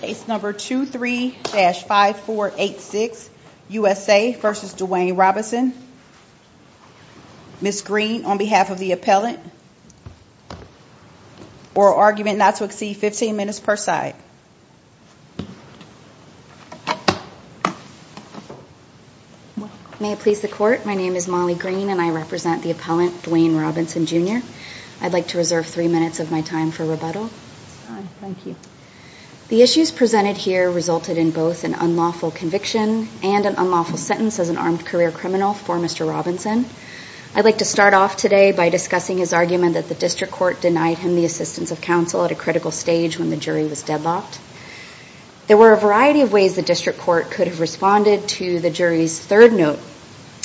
Case number 23-5486, USA v. Dwayne Robinson, Ms. Green on behalf of the appellant. Oral argument not to exceed 15 minutes per side. May it please the court, my name is Molly Green and I represent the appellant Dwayne Robinson Jr. I'd like to reserve three minutes of my time for thank you. The issues presented here resulted in both an unlawful conviction and an unlawful sentence as an armed career criminal for Mr. Robinson. I'd like to start off today by discussing his argument that the district court denied him the assistance of counsel at a critical stage when the jury was deadlocked. There were a variety of ways the district court could have responded to the jury's third note,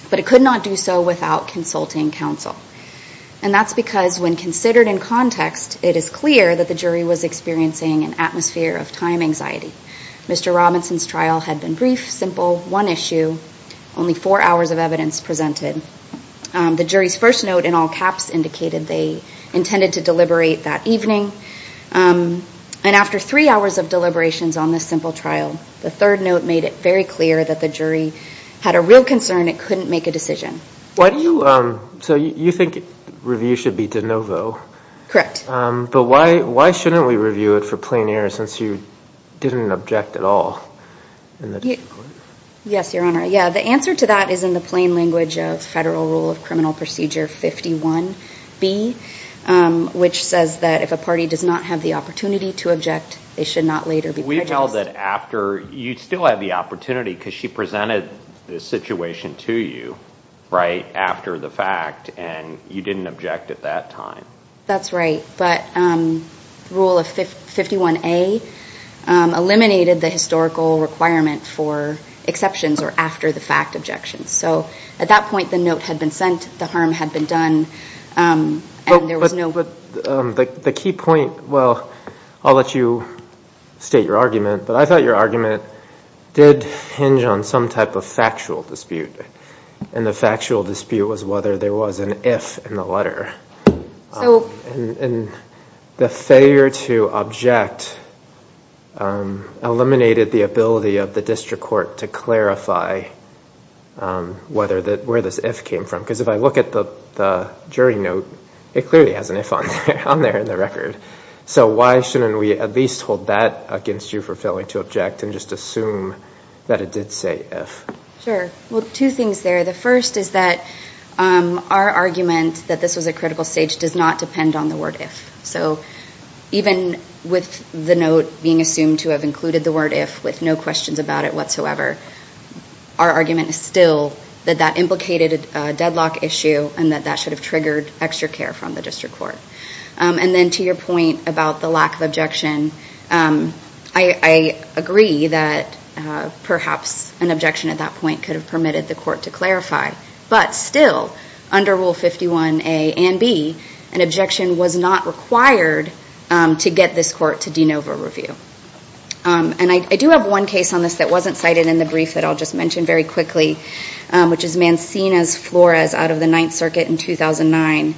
but it could not do so without consulting counsel. And that's because when considered in context, it is clear that the jury was experiencing an atmosphere of time anxiety. Mr. Robinson's trial had been brief, simple, one issue, only four hours of evidence presented. The jury's first note in all caps indicated they intended to deliberate that evening. And after three hours of deliberations on this simple trial, the third note made it very clear that the jury had a real concern it couldn't make a decision. So you think review should be de novo? Correct. But why shouldn't we review it for plein air since you didn't object at all? Yes, your honor. Yeah, the answer to that is in the plain language of Federal Rule of Criminal Procedure 51B, which says that if a party does not have the opportunity to object, they should not later be prejudiced. We felt that after you still had the opportunity because she presented the situation to you right after the fact and you didn't object at that time. That's right. But Rule of 51A eliminated the historical requirement for exceptions or after the fact objections. So at that point, the note had been sent, the harm had been done, and there was no... But the key point, well, I'll let you state your argument, but I thought your argument did hinge on some type of factual dispute. And the factual dispute was whether there was an if in the letter. And the failure to object eliminated the ability of the district court to clarify where this if came from. Because if I look at the jury note, it clearly has an if on there in the record. So why shouldn't we at least hold that against you for failing to object and just assume that it did say if? Sure. Well, two things there. The first is that our argument that this was a critical stage does not depend on the word if. So even with the note being assumed to have included the word if with no questions about it whatsoever, our argument is still that that implicated a deadlock issue and that that should have triggered extra care from the district court. And then to your point about the lack of objection, I agree that perhaps an objection at that point could have permitted the court to clarify. But still, under Rule 51A and B, an objection was not required to get this court to de novo review. And I do have one case on this that wasn't cited in the brief that I'll just mention very quickly, which is Mancina's Flores out of the Ninth Circuit in 2009,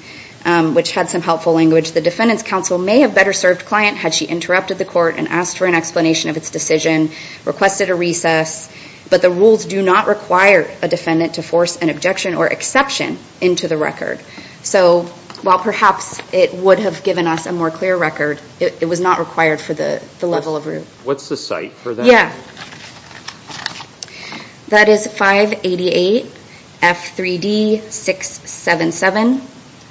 which had some helpful language. The defendant's counsel may have better served client had she interrupted the court and asked for an explanation of its decision, requested a recess, but the rules do not require a defendant to force an objection or exception into the record. So while perhaps it would have given us a more clear record, it was not required for the level of root. What's the site for that? Yeah, that is 588 F3D 677,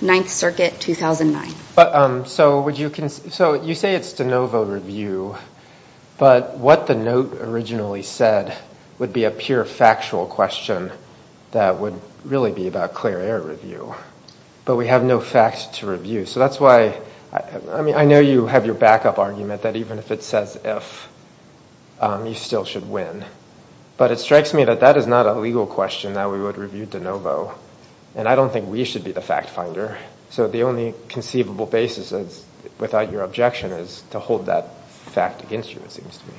Ninth Circuit, 2009. But so would you, so you say it's de novo review, but what the note originally said would be a pure factual question that would really be about clear air review, but we have no facts to review. So that's why, I mean, I know you have your backup argument that even if it says if, you still should win. But it strikes me that that is not a legal question that we would review de novo. And I don't think we should be the fact finder. So the only conceivable basis is, without your objection, is to hold that fact against you, it seems to me.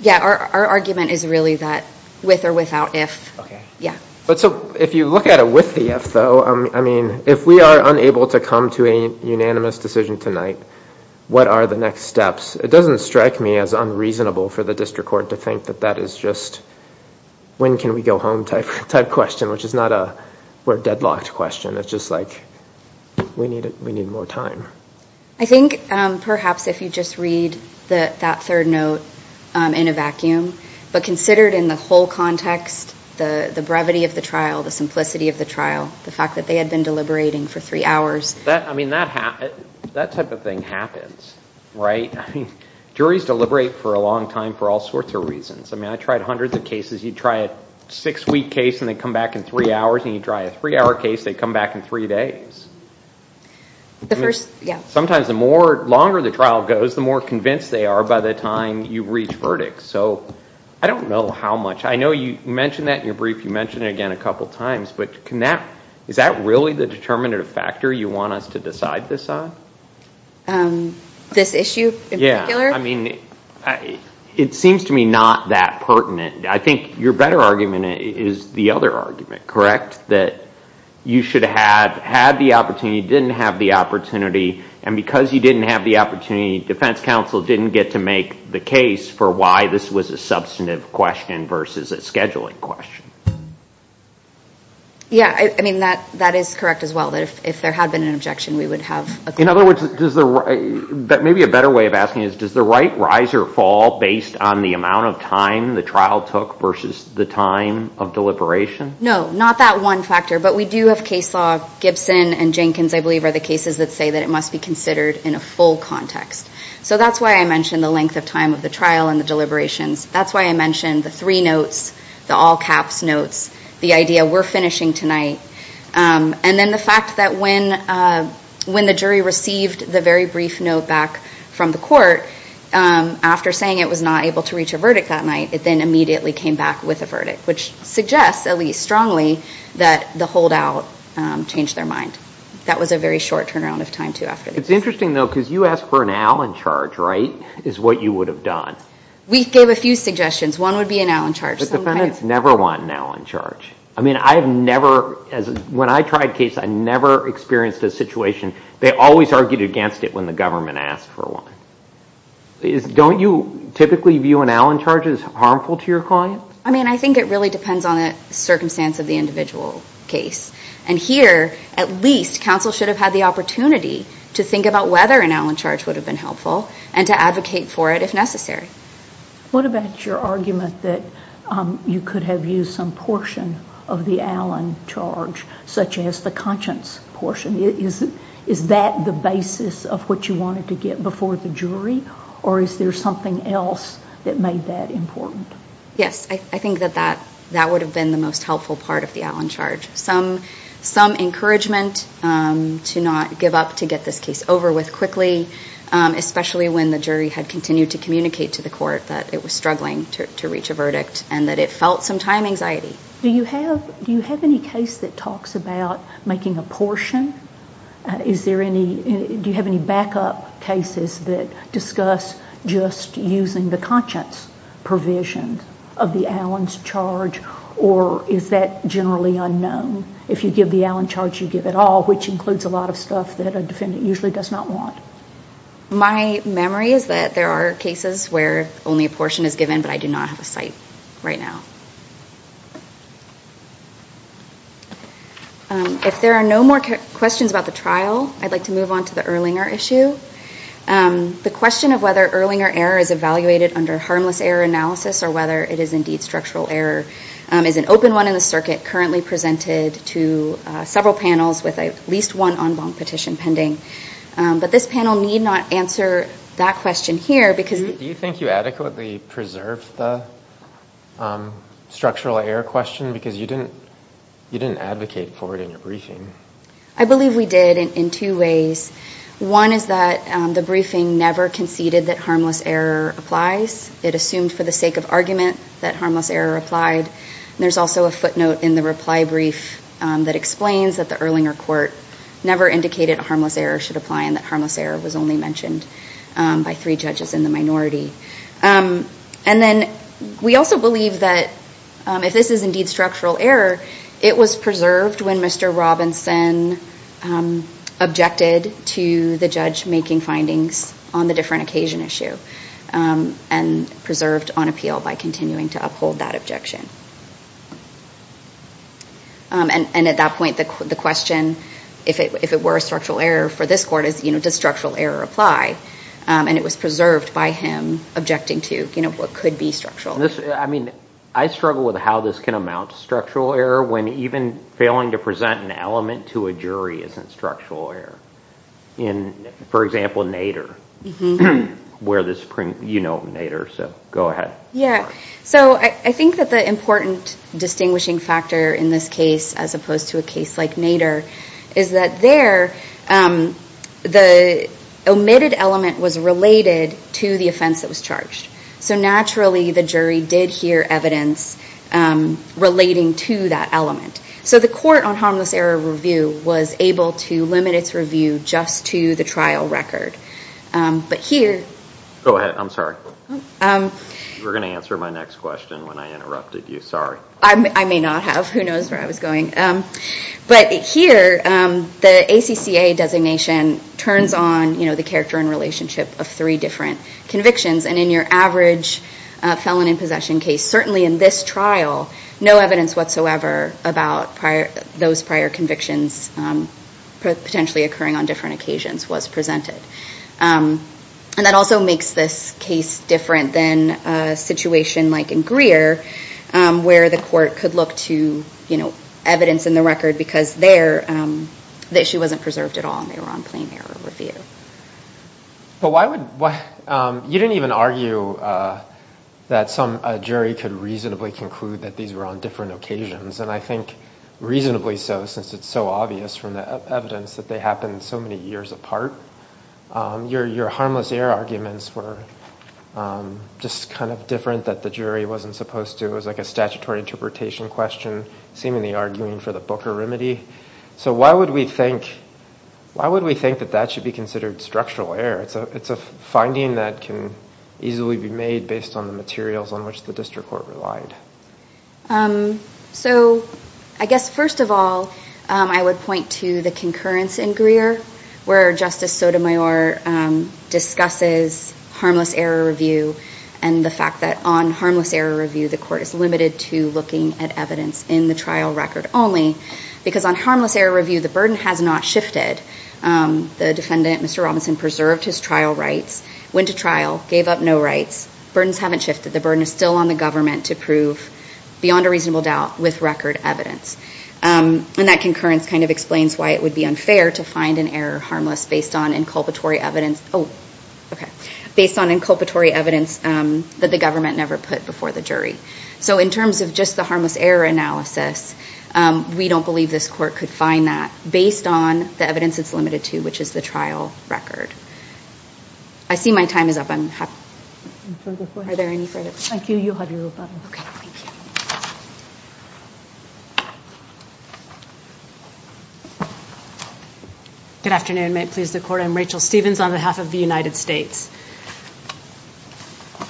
Yeah, our argument is really that with or without if. Okay. Yeah. But so if you look at it with the though, I mean, if we are unable to come to a unanimous decision tonight, what are the next steps? It doesn't strike me as unreasonable for the district court to think that that is just when can we go home type question, which is not a, we're deadlocked question. It's just like, we need more time. I think perhaps if you just read that third note in a vacuum, but considered in the whole context, the brevity of the trial, the simplicity of the trial, the fact that they had been deliberating for three hours. I mean, that type of thing happens, right? I mean, juries deliberate for a long time for all sorts of reasons. I mean, I tried hundreds of cases. You try a six week case and they come back in three hours and you try a three hour case, they come back in three days. Sometimes the more longer the trial goes, the more convinced they are by the time you reach verdict. So I don't know how much, I know you mentioned that in your brief, you mentioned it again a couple of times, but is that really the determinative factor you want us to decide this on? This issue in particular? Yeah. I mean, it seems to me not that pertinent. I think your better argument is the other argument, correct? That you should have had the opportunity, didn't have the opportunity and because you didn't have the opportunity, defense counsel didn't get to make the case for why this was a substantive question versus a scheduling question. Yeah. I mean, that is correct as well, that if there had been an objection, we would have. In other words, maybe a better way of asking is, does the right riser fall based on the amount of time the trial took versus the time of deliberation? No, not that one factor, but we do have case law, Gibson and Jenkins, I believe are the cases that say that it must be considered in a full context. So that's why I mentioned the length of time of the trial and the deliberations. That's why I mentioned the three notes, the all caps notes, the idea we're finishing tonight. And then the fact that when the jury received the very brief note back from the court, after saying it was not able to reach a verdict that night, it then immediately came back with a verdict, which suggests at least strongly that the holdout changed their mind. That was a very short turnaround of time, too, after this. It's interesting, though, because you asked for an Allen charge, right, is what you would have done. We gave a few suggestions. One would be an Allen charge. But defendants never want an Allen charge. I mean, I have never, when I tried cases, I never experienced a situation, they always argued against it when the government asked for one. Don't you typically view an Allen charge as harmful to your client? I mean, I think it really depends on the circumstance of the individual case. And here, at least, counsel should have had the opportunity to think about whether an Allen charge would have been helpful and to advocate for it if necessary. What about your argument that you could have used some portion of the Allen charge, such as the conscience portion? Is that the basis of what you wanted to get before the jury? Or is there something else that made that important? Yes, I think that that would have been the most helpful part of the Allen charge. Some encouragement to not give up to get this case over with quickly, especially when the jury had continued to communicate to the court that it was struggling to reach a verdict and that it felt some time anxiety. Do you have any case that talks about making a portion? Do you have any backup cases that discuss just using the conscience provision of the Allen's charge? Or is that generally unknown? If you give the Allen charge, you give it all, which includes a lot of stuff that a defendant usually does not want. My memory is that there are cases where only a portion is given, but I do not have a site right now. If there are no more questions about the trial, I'd like to move on to the Erlinger issue. The question of whether Erlinger error is evaluated under harmless error analysis or whether it is indeed structural error is an open one in the circuit currently presented to several panels with at least one en banc petition pending. But this panel need not answer that question here. Do you think you adequately preserved the structural error question? Because you didn't advocate for it in your briefing. I believe we did in two ways. One is that the briefing never conceded that harmless error applies. It assumed for the sake of argument that harmless error applied. There's also a footnote in the reply brief that explains that the Erlinger court never indicated that harmless error should apply and that harmless error was only mentioned by three judges in the minority. We also believe that if this is indeed structural error, it was preserved when Mr. Robinson objected to the judge making findings on the different occasion issue and preserved on appeal by continuing to uphold that objection. And at that point, the question, if it were a structural error for this court, is, you know, does structural error apply? And it was preserved by him objecting to, you know, what could be structural. I mean, I struggle with how this can amount to structural error when even failing to present an element to a jury isn't structural error. For example, Nader. You know Nader, so go ahead. Yeah, so I think that the importance of distinguishing factor in this case as opposed to a case like Nader is that there the omitted element was related to the offense that was charged. So naturally the jury did hear evidence relating to that element. So the court on harmless error review was able to limit its review just to the trial record. But here... Go ahead. I'm sorry. You were going to answer my next question when I interrupted you. Sorry. I may not have. Who knows where I was going. But here, the ACCA designation turns on, you know, the character and relationship of three different convictions. And in your average felon in possession case, certainly in this trial, no evidence whatsoever about those prior convictions potentially occurring on different occasions was presented. And that also makes this different than a situation like in Greer where the court could look to, you know, evidence in the record because there the issue wasn't preserved at all and they were on plain error review. But why would... You didn't even argue that some jury could reasonably conclude that these were on different occasions. And I think reasonably so since it's so obvious from the evidence that happened so many years apart. Your harmless error arguments were just kind of different that the jury wasn't supposed to. It was like a statutory interpretation question, seemingly arguing for the Booker remedy. So why would we think that that should be considered structural error? It's a finding that can easily be made based on the materials on which the district court relied. So I guess first of all, I would point to the concurrence in Greer where Justice Sotomayor discusses harmless error review and the fact that on harmless error review, the court is limited to looking at evidence in the trial record only because on harmless error review, the burden has not shifted. The defendant, Mr. Robinson, preserved his trial rights, went to trial, gave up no rights. Burdens haven't shifted. The burden is still on the government to prove beyond a reasonable doubt with record evidence. And that concurrence kind of explains why it would be unfair to find an error harmless based on inculpatory evidence... Oh, okay. Based on inculpatory evidence that the government never put before the jury. So in terms of just the harmless error analysis, we don't believe this court could find that based on the evidence it's limited to, which is the trial record. I see my time is up. I'm happy. Are there any further questions? Thank you. You'll have your rebuttal. Okay. Thank you. Good afternoon. May it please the court. I'm Rachel Stevens on behalf of the United States.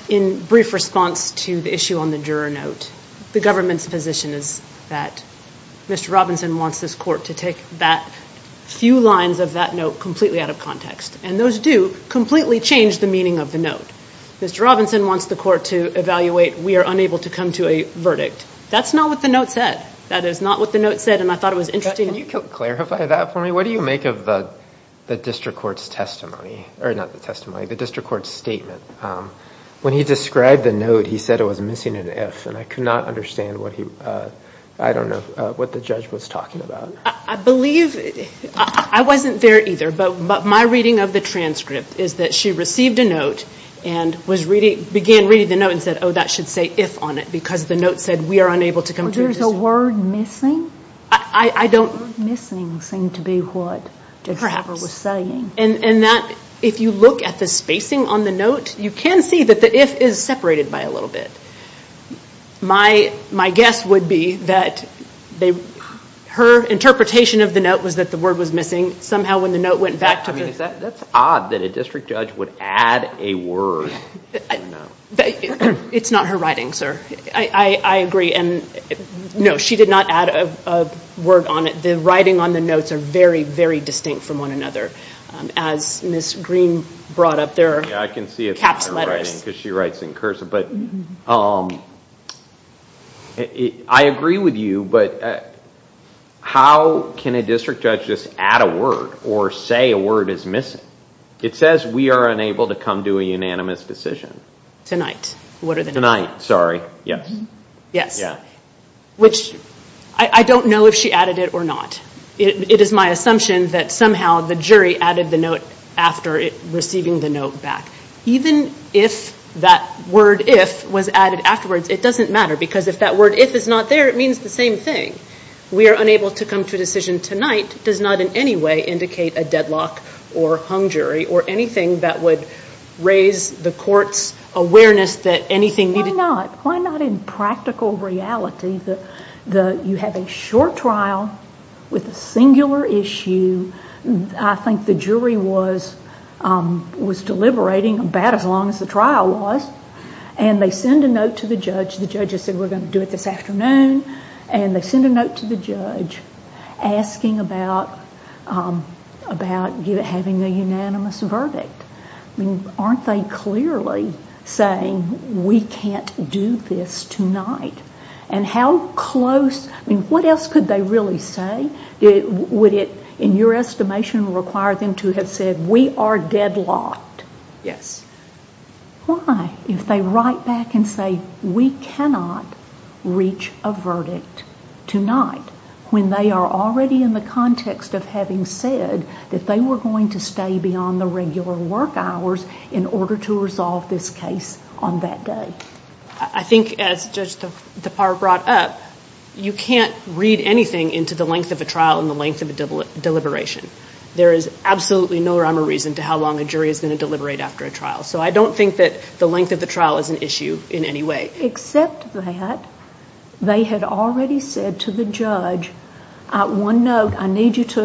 In brief response to the issue on the juror note, the government's position is that Mr. Robinson wants this court to take that few lines of that note completely out of context. And those do completely change the meaning of the note. Mr. Robinson wants the court to evaluate we are unable to come to a verdict. That's not what the note said. That is not what the note said. And I thought it was interesting... Can you clarify that for me? What do you make of the district court's testimony? Or not the testimony, the district court's statement. When he described the note, he said it was missing an F and I could not understand what he... I don't know what the talking about. I believe... I wasn't there either. But my reading of the transcript is that she received a note and began reading the note and said, oh, that should say if on it. Because the note said we are unable to come to a decision. Was there a word missing? I don't... The word missing seemed to be what Judge Weber was saying. Perhaps. And that... If you look at the spacing on the note, you can see that the if is separated by a little bit. My guess would be that they... Her interpretation of the note was that the word was missing. Somehow when the note went back to... That's odd that a district judge would add a word. It's not her writing, sir. I agree. And no, she did not add a word on it. The writing on the notes are very, very distinct from one another. As Ms. Green brought up, there are... I can see because she writes in cursive. But I agree with you, but how can a district judge just add a word or say a word is missing? It says we are unable to come to a unanimous decision. Tonight. What are the... Tonight, sorry. Yes. Yes. Which I don't know if she added it or not. It is my assumption that somehow the jury added the note after receiving the note back. Even if that word if was added afterwards, it doesn't matter because if that word if is not there, it means the same thing. We are unable to come to a decision tonight does not in any way indicate a deadlock or hung jury or anything that would raise the court's awareness that anything... Why not? Why not in practical reality? You have a short trial with a singular issue. I think the jury was deliberating about as long as the trial was. And they send a note to the judge. The judge has said, we're going to do it this afternoon. And they send a note to the judge asking about having a unanimous verdict. Aren't they clearly saying we can't do this tonight? And how close... What else could they really say? Would it, in your estimation, require them to have said we are deadlocked? Yes. Why if they write back and say we cannot reach a verdict tonight when they are already in the context of having said that they were going to stay beyond the regular work hours in order to resolve this case on that day? I think as Judge DePauw brought up, you can't read anything into the length of a trial and the length of a deliberation. There is absolutely no rhyme or reason to how long a jury is going to deliberate after a trial. So I don't think that the length of the trial is an issue in any way. Except that they had already said to the judge, at one note, I need you to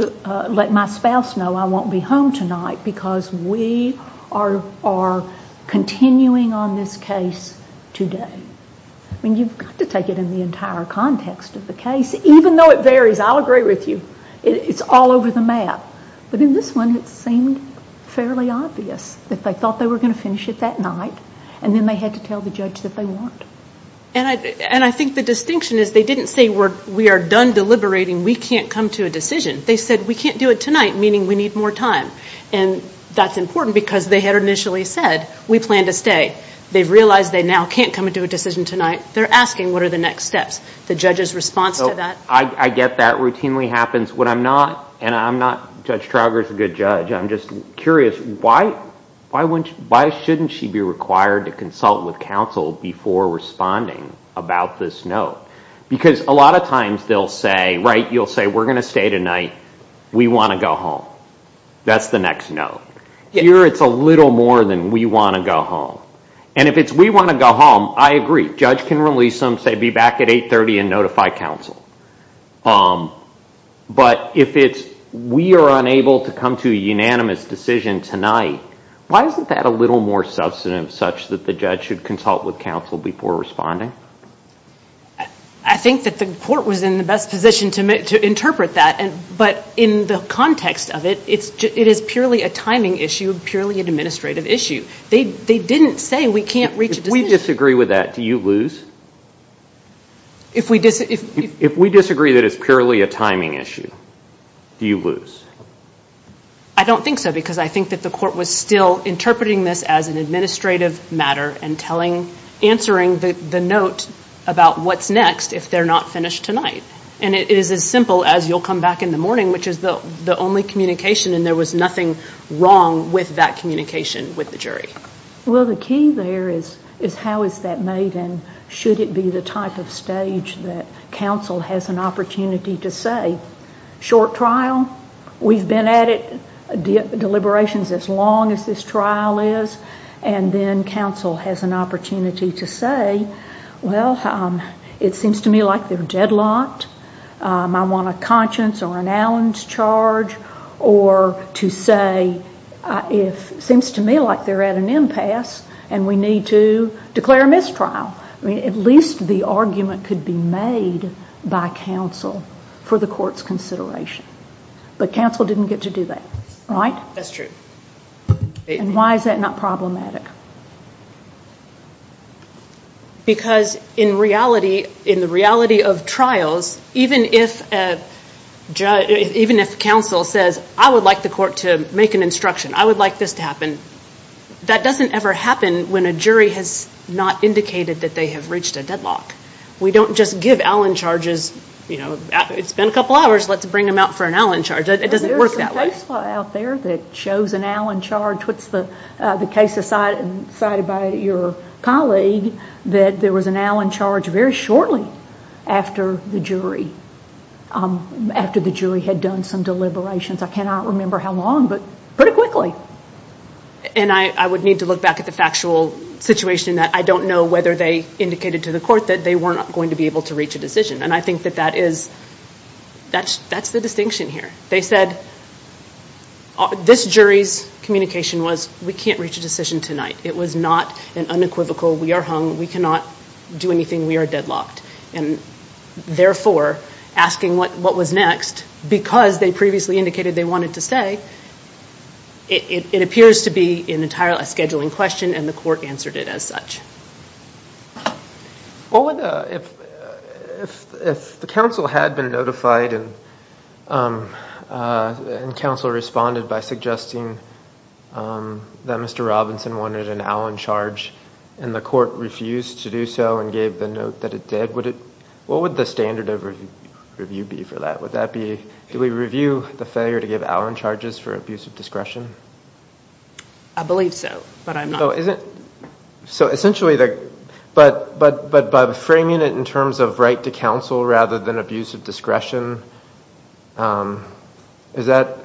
let my spouse know I won't be home tonight because we are continuing on this case today. I mean, you've got to take it in the entire context of the case. Even though it varies, I'll agree with you. It's all over the map. But in this one, it seemed fairly obvious that they thought they were going to finish it that night and then they had to tell the judge that they weren't. And I think the distinction is they didn't say we are done deliberating. We can't come to a decision. They said we can't do it tonight, meaning we need more time. And that's important because they had initially said we plan to stay. They've realized they now can't come and do a next step. The judge's response to that? I get that routinely happens. And I'm not Judge Trauger's a good judge. I'm just curious, why shouldn't she be required to consult with counsel before responding about this note? Because a lot of times they'll say, right, you'll say we're going to stay tonight. We want to go home. That's the next note. Here, it's a little more than we want to go home. And if it's we want to go home, I agree. Judge can be back at 830 and notify counsel. But if it's we are unable to come to a unanimous decision tonight, why isn't that a little more substantive such that the judge should consult with counsel before responding? I think that the court was in the best position to interpret that. But in the context of it, it is purely a timing issue, purely an administrative issue. They didn't say we can't disagree with that. Do you lose? If we disagree that it's purely a timing issue, do you lose? I don't think so. Because I think that the court was still interpreting this as an administrative matter and answering the note about what's next if they're not finished tonight. And it is as simple as you'll come back in the morning, which is the only communication. And there was nothing wrong with that communication with the jury. Well, the key there is how is that made and should it be the type of stage that counsel has an opportunity to say, short trial, we've been at it, deliberations as long as this trial is. And then counsel has an opportunity to say, well, it seems to me like they're deadlocked. I want a conscience or an if. It seems to me like they're at an impasse and we need to declare a mistrial. At least the argument could be made by counsel for the court's consideration. But counsel didn't get to do that, right? That's true. And why is that not problematic? Because in reality, in the reality of trials, even if counsel says, I would like the court to make an instruction, I would like this to happen, that doesn't ever happen when a jury has not indicated that they have reached a deadlock. We don't just give Allen charges, you know, it's been a couple hours, let's bring them out for an Allen charge. It doesn't work that way. There's a case law out there that shows an Allen charge. What's the case decided by your colleague that there was an Allen charge very shortly after the jury, after the jury had done some deliberations? I cannot remember how long, but pretty quickly. And I would need to look back at the factual situation that I don't know whether they indicated to the court that they were not going to be able to reach a decision. And I think that that is, that's the distinction here. They said, this jury's communication was, we can't reach a decision tonight. It was not an unequivocal, we are hung, we cannot do anything, we are deadlocked. And therefore, asking what was next, because they previously indicated they wanted to stay, it appears to be an entirely scheduling question and the court answered it as such. Well, if the counsel had been notified and counsel responded by suggesting that Mr. Robinson wanted an Allen charge and the court refused to do so and gave the note that it did, what would the standard of review be for that? Would that be, do we review the failure to give Allen charges for abuse of discretion? I believe so, but I'm not. So essentially, but by framing it in terms of right to counsel rather than abuse of discretion, is that,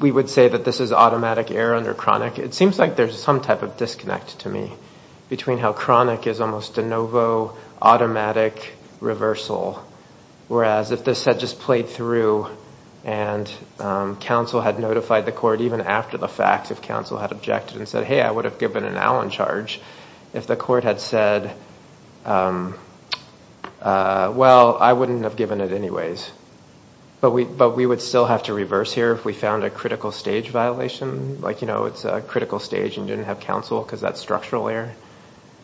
we would say that this is automatic error under chronic? It seems like there's some type of disconnect to me between how chronic is almost de novo, automatic reversal, whereas if this had just played through and counsel had notified the court even after the fact, if counsel had objected and said, hey, I would have given an Allen charge if the court had said, well, I wouldn't have given it anyways. But we would still have to reverse here if we found a critical stage violation, like it's a critical stage and didn't have counsel because that's structural error.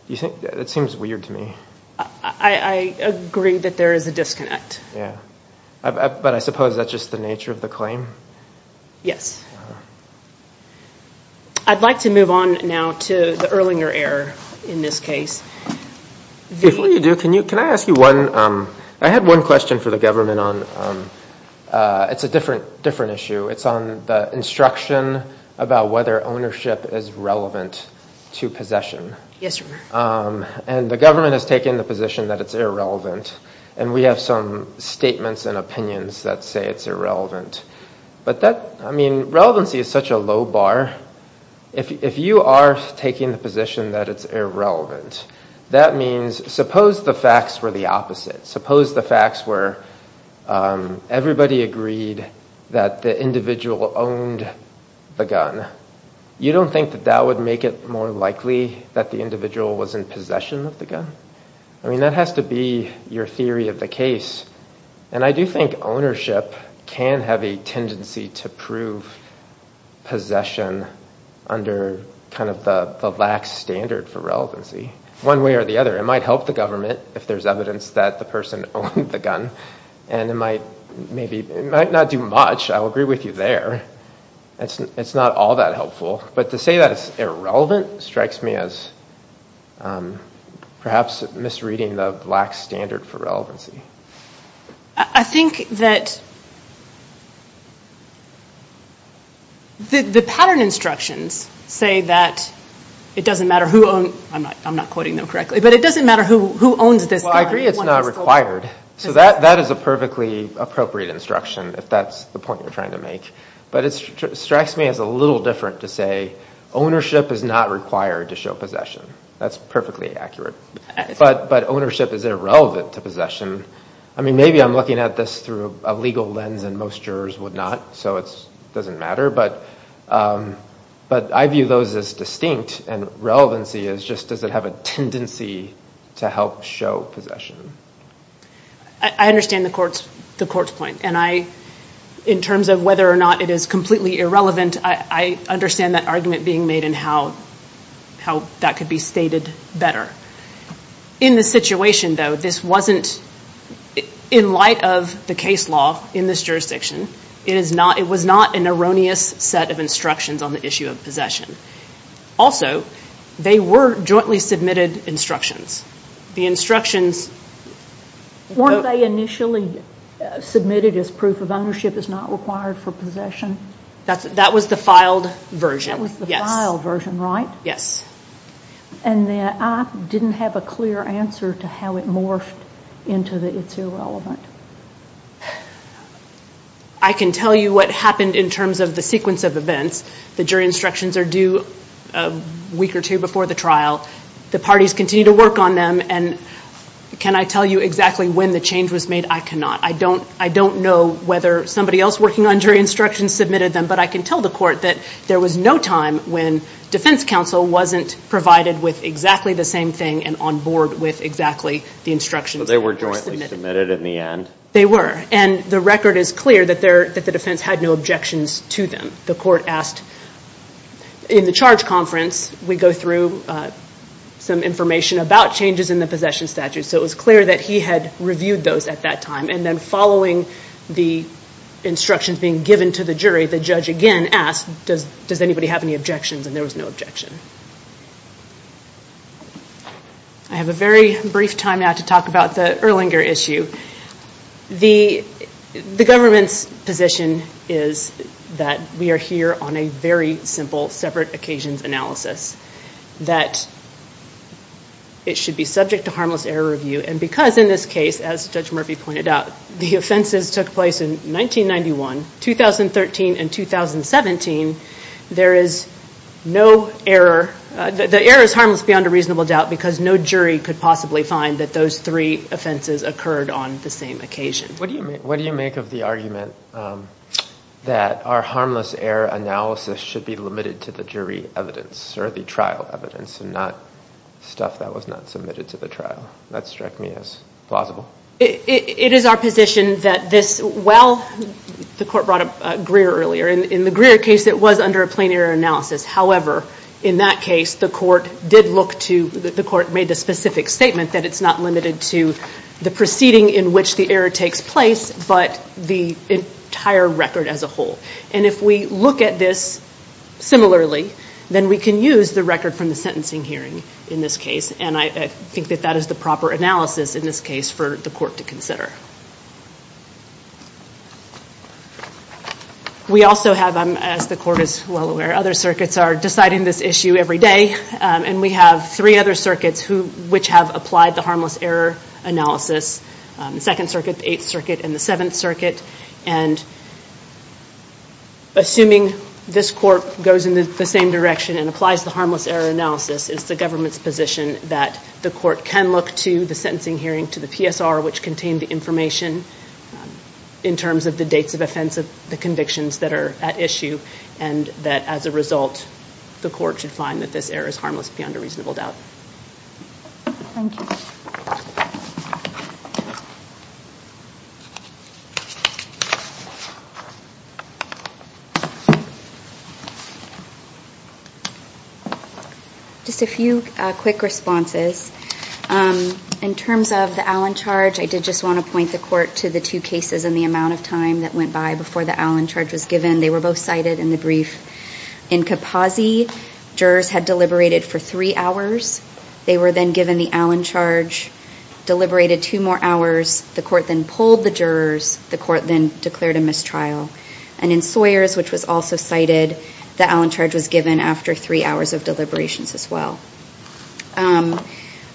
It seems weird to me. I agree that there is a disconnect. Yeah. But I suppose that's just the nature of the claim? Yes. I'd like to move on now to the Erlinger error in this case. Before you do, can I ask you one, I had one question for the government on, it's a different issue. It's on the instruction about whether ownership is relevant to possession. Yes, your honor. And the government has taken the position that it's irrelevant. And we have some statements and opinions that say it's irrelevant. But that, I mean, relevancy is such a low bar. If you are taking the position that it's irrelevant, that means, suppose the opposite. Suppose the facts were everybody agreed that the individual owned the gun. You don't think that that would make it more likely that the individual was in possession of the gun? I mean, that has to be your theory of the case. And I do think ownership can have a tendency to prove possession under kind of the lax standard for relevancy. One way or the other, it might help the government if there's evidence that the person owned the gun. And it might not do much. I'll agree with you there. It's not all that helpful. But to say that it's irrelevant strikes me as perhaps misreading the lax standard for relevancy. I think that the pattern instructions say that it doesn't matter who owned, I'm not quoting them correctly, but it doesn't matter who owns this gun. Well, I agree it's not required. So that is a perfectly appropriate instruction, if that's the point you're trying to make. But it strikes me as a little different to say ownership is not required to show possession. That's perfectly accurate. But ownership is irrelevant to possession. I mean, maybe I'm looking at this through a legal lens and most jurors would not. So it doesn't matter. But I view those as distinct. And relevancy is does it have a tendency to help show possession? I understand the court's point. And I, in terms of whether or not it is completely irrelevant, I understand that argument being made and how that could be stated better. In the situation, though, this wasn't, in light of the case law in this jurisdiction, it was not an erroneous set of instructions on the jointly submitted instructions. The instructions... Weren't they initially submitted as proof of ownership is not required for possession? That was the filed version. That was the filed version, right? Yes. And I didn't have a clear answer to how it morphed into that it's irrelevant. I can tell you what happened in terms of the sequence of events, the jury instructions are due a week or two before the trial. The parties continue to work on them. And can I tell you exactly when the change was made? I cannot. I don't know whether somebody else working on jury instructions submitted them. But I can tell the court that there was no time when defense counsel wasn't provided with exactly the same thing and on board with exactly the instructions that were submitted. So they were jointly submitted in the end? They were. And the record is clear that the defense had no objections to them. The court asked in the charge conference, we go through some information about changes in the possession statute. So it was clear that he had reviewed those at that time. And then following the instructions being given to the jury, the judge again asked, does anybody have any objections? And there was no objection. I have a very brief time now to talk about the Erlanger issue. The government's position is that we are here on a very simple separate occasions analysis. That it should be subject to harmless error review. And because in this case, as Judge Murphy pointed out, the offenses took place in 1991, 2013, and 2017, there is no error. The error is harmless beyond a reasonable doubt because no jury could possibly find that those three occurred on the same occasion. What do you make of the argument that our harmless error analysis should be limited to the jury evidence or the trial evidence and not stuff that was not submitted to the trial? That struck me as plausible. It is our position that this, well, the court brought up Greer earlier. In the Greer case, it was under a plain error analysis. However, in that case, the court did look to, the court made a specific statement that it's not limited to the proceeding in which the error takes place, but the entire record as a whole. And if we look at this similarly, then we can use the record from the sentencing hearing in this case. And I think that that is the proper analysis in this case for the court to consider. We also have, as the court is well aware, other circuits are deciding this issue every day. And we have three other circuits which have applied the harmless error analysis, the Second Circuit, the Eighth Circuit, and the Seventh Circuit. And assuming this court goes in the same direction and applies the harmless error analysis, it's the government's position that the court can look to the sentencing hearing, to the PSR, which contained the information in terms of the dates of offense of the convictions that are at issue, and that as a result, the court should find that this error is harmless beyond a reasonable doubt. Thank you. Just a few quick responses. In terms of the Allen charge, I did just want to point the court to the two cases and the amount of time that went by before the Allen charge was given. They were both cited in the brief. In Capozzi, jurors had deliberated for three hours. They were then given the Allen charge, deliberated two more hours, the court then pulled the jurors, the court then declared a mistrial. And in Sawyers, which was also cited, the Allen charge was given after three hours of deliberations as well.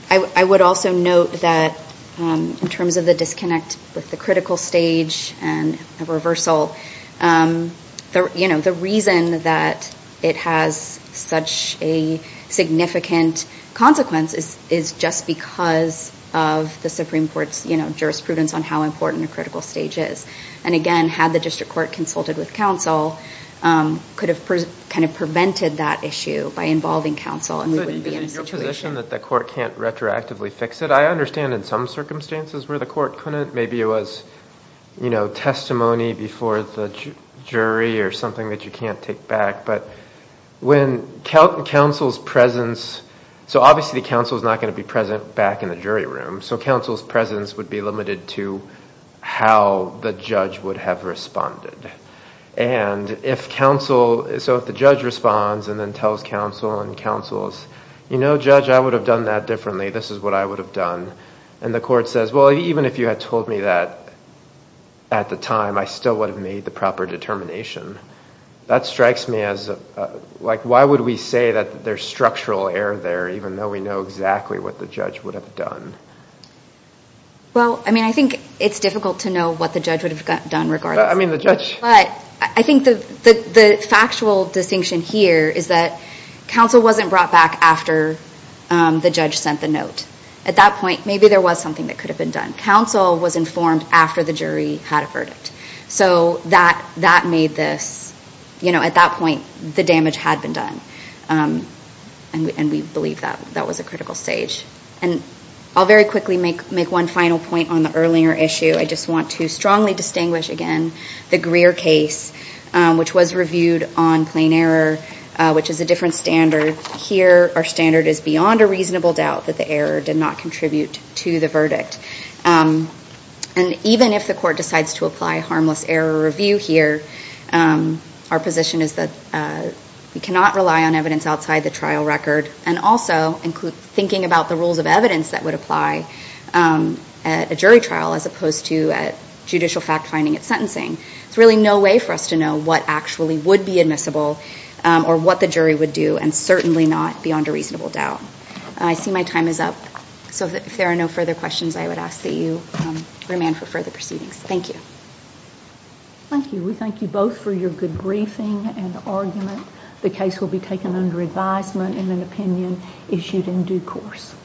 I would also note that in terms of the disconnect with the critical stage and the reversal, the reason that it has such a significant consequence is just because of the Supreme Court's jurisprudence on how important a critical stage is. And again, had the district court consulted with counsel, could have prevented that issue by involving counsel and we wouldn't be in this situation. But in your position that the court can't retroactively fix it, I understand in some circumstances where the court couldn't. Maybe it was testimony before the jury or something that you can't take back. But when counsel's presence, so obviously the counsel is not going to be present back in the jury room, so counsel's presence would be limited to how the judge would have responded. And if counsel, so if the judge responds and then tells counsel and counsels, you know judge I would have done that differently. This is what I would have done. And the court says, well even if you had told me that at the time, I still would have made the proper determination. That strikes me as like, why would we say that there's structural error there even though we know exactly what the judge would have done? Well, I mean I think it's difficult to know what the judge would have done regardless. I mean the judge. But I think the factual distinction here is that counsel wasn't brought back after the judge sent the note. At that point, maybe there was something that could have been done. Counsel was informed after the jury had a verdict. So that made this, you know at that point the damage had been done. And we believe that that was a critical stage. And I'll very quickly make one final point on the earlier issue. I just want to strongly distinguish again the Greer case, which was reviewed on plain error, which is a different standard. Here our standard is beyond a reasonable doubt that the error did not contribute to the verdict. And even if the court decides to apply harmless error review here, our position is that we cannot rely on evidence outside the trial record and also include thinking about the rules of evidence that would apply at a jury trial as opposed to a judicial fact finding at sentencing. There's really no way for us to know what actually would be admissible or what the jury would do and certainly not beyond a reasonable doubt. I see my time is up. So if there are no further questions, I would ask that you remand for further proceedings. Thank you. Thank you. We thank you both for your good briefing and argument. The case will be taken under advisement and an opinion issued in due course.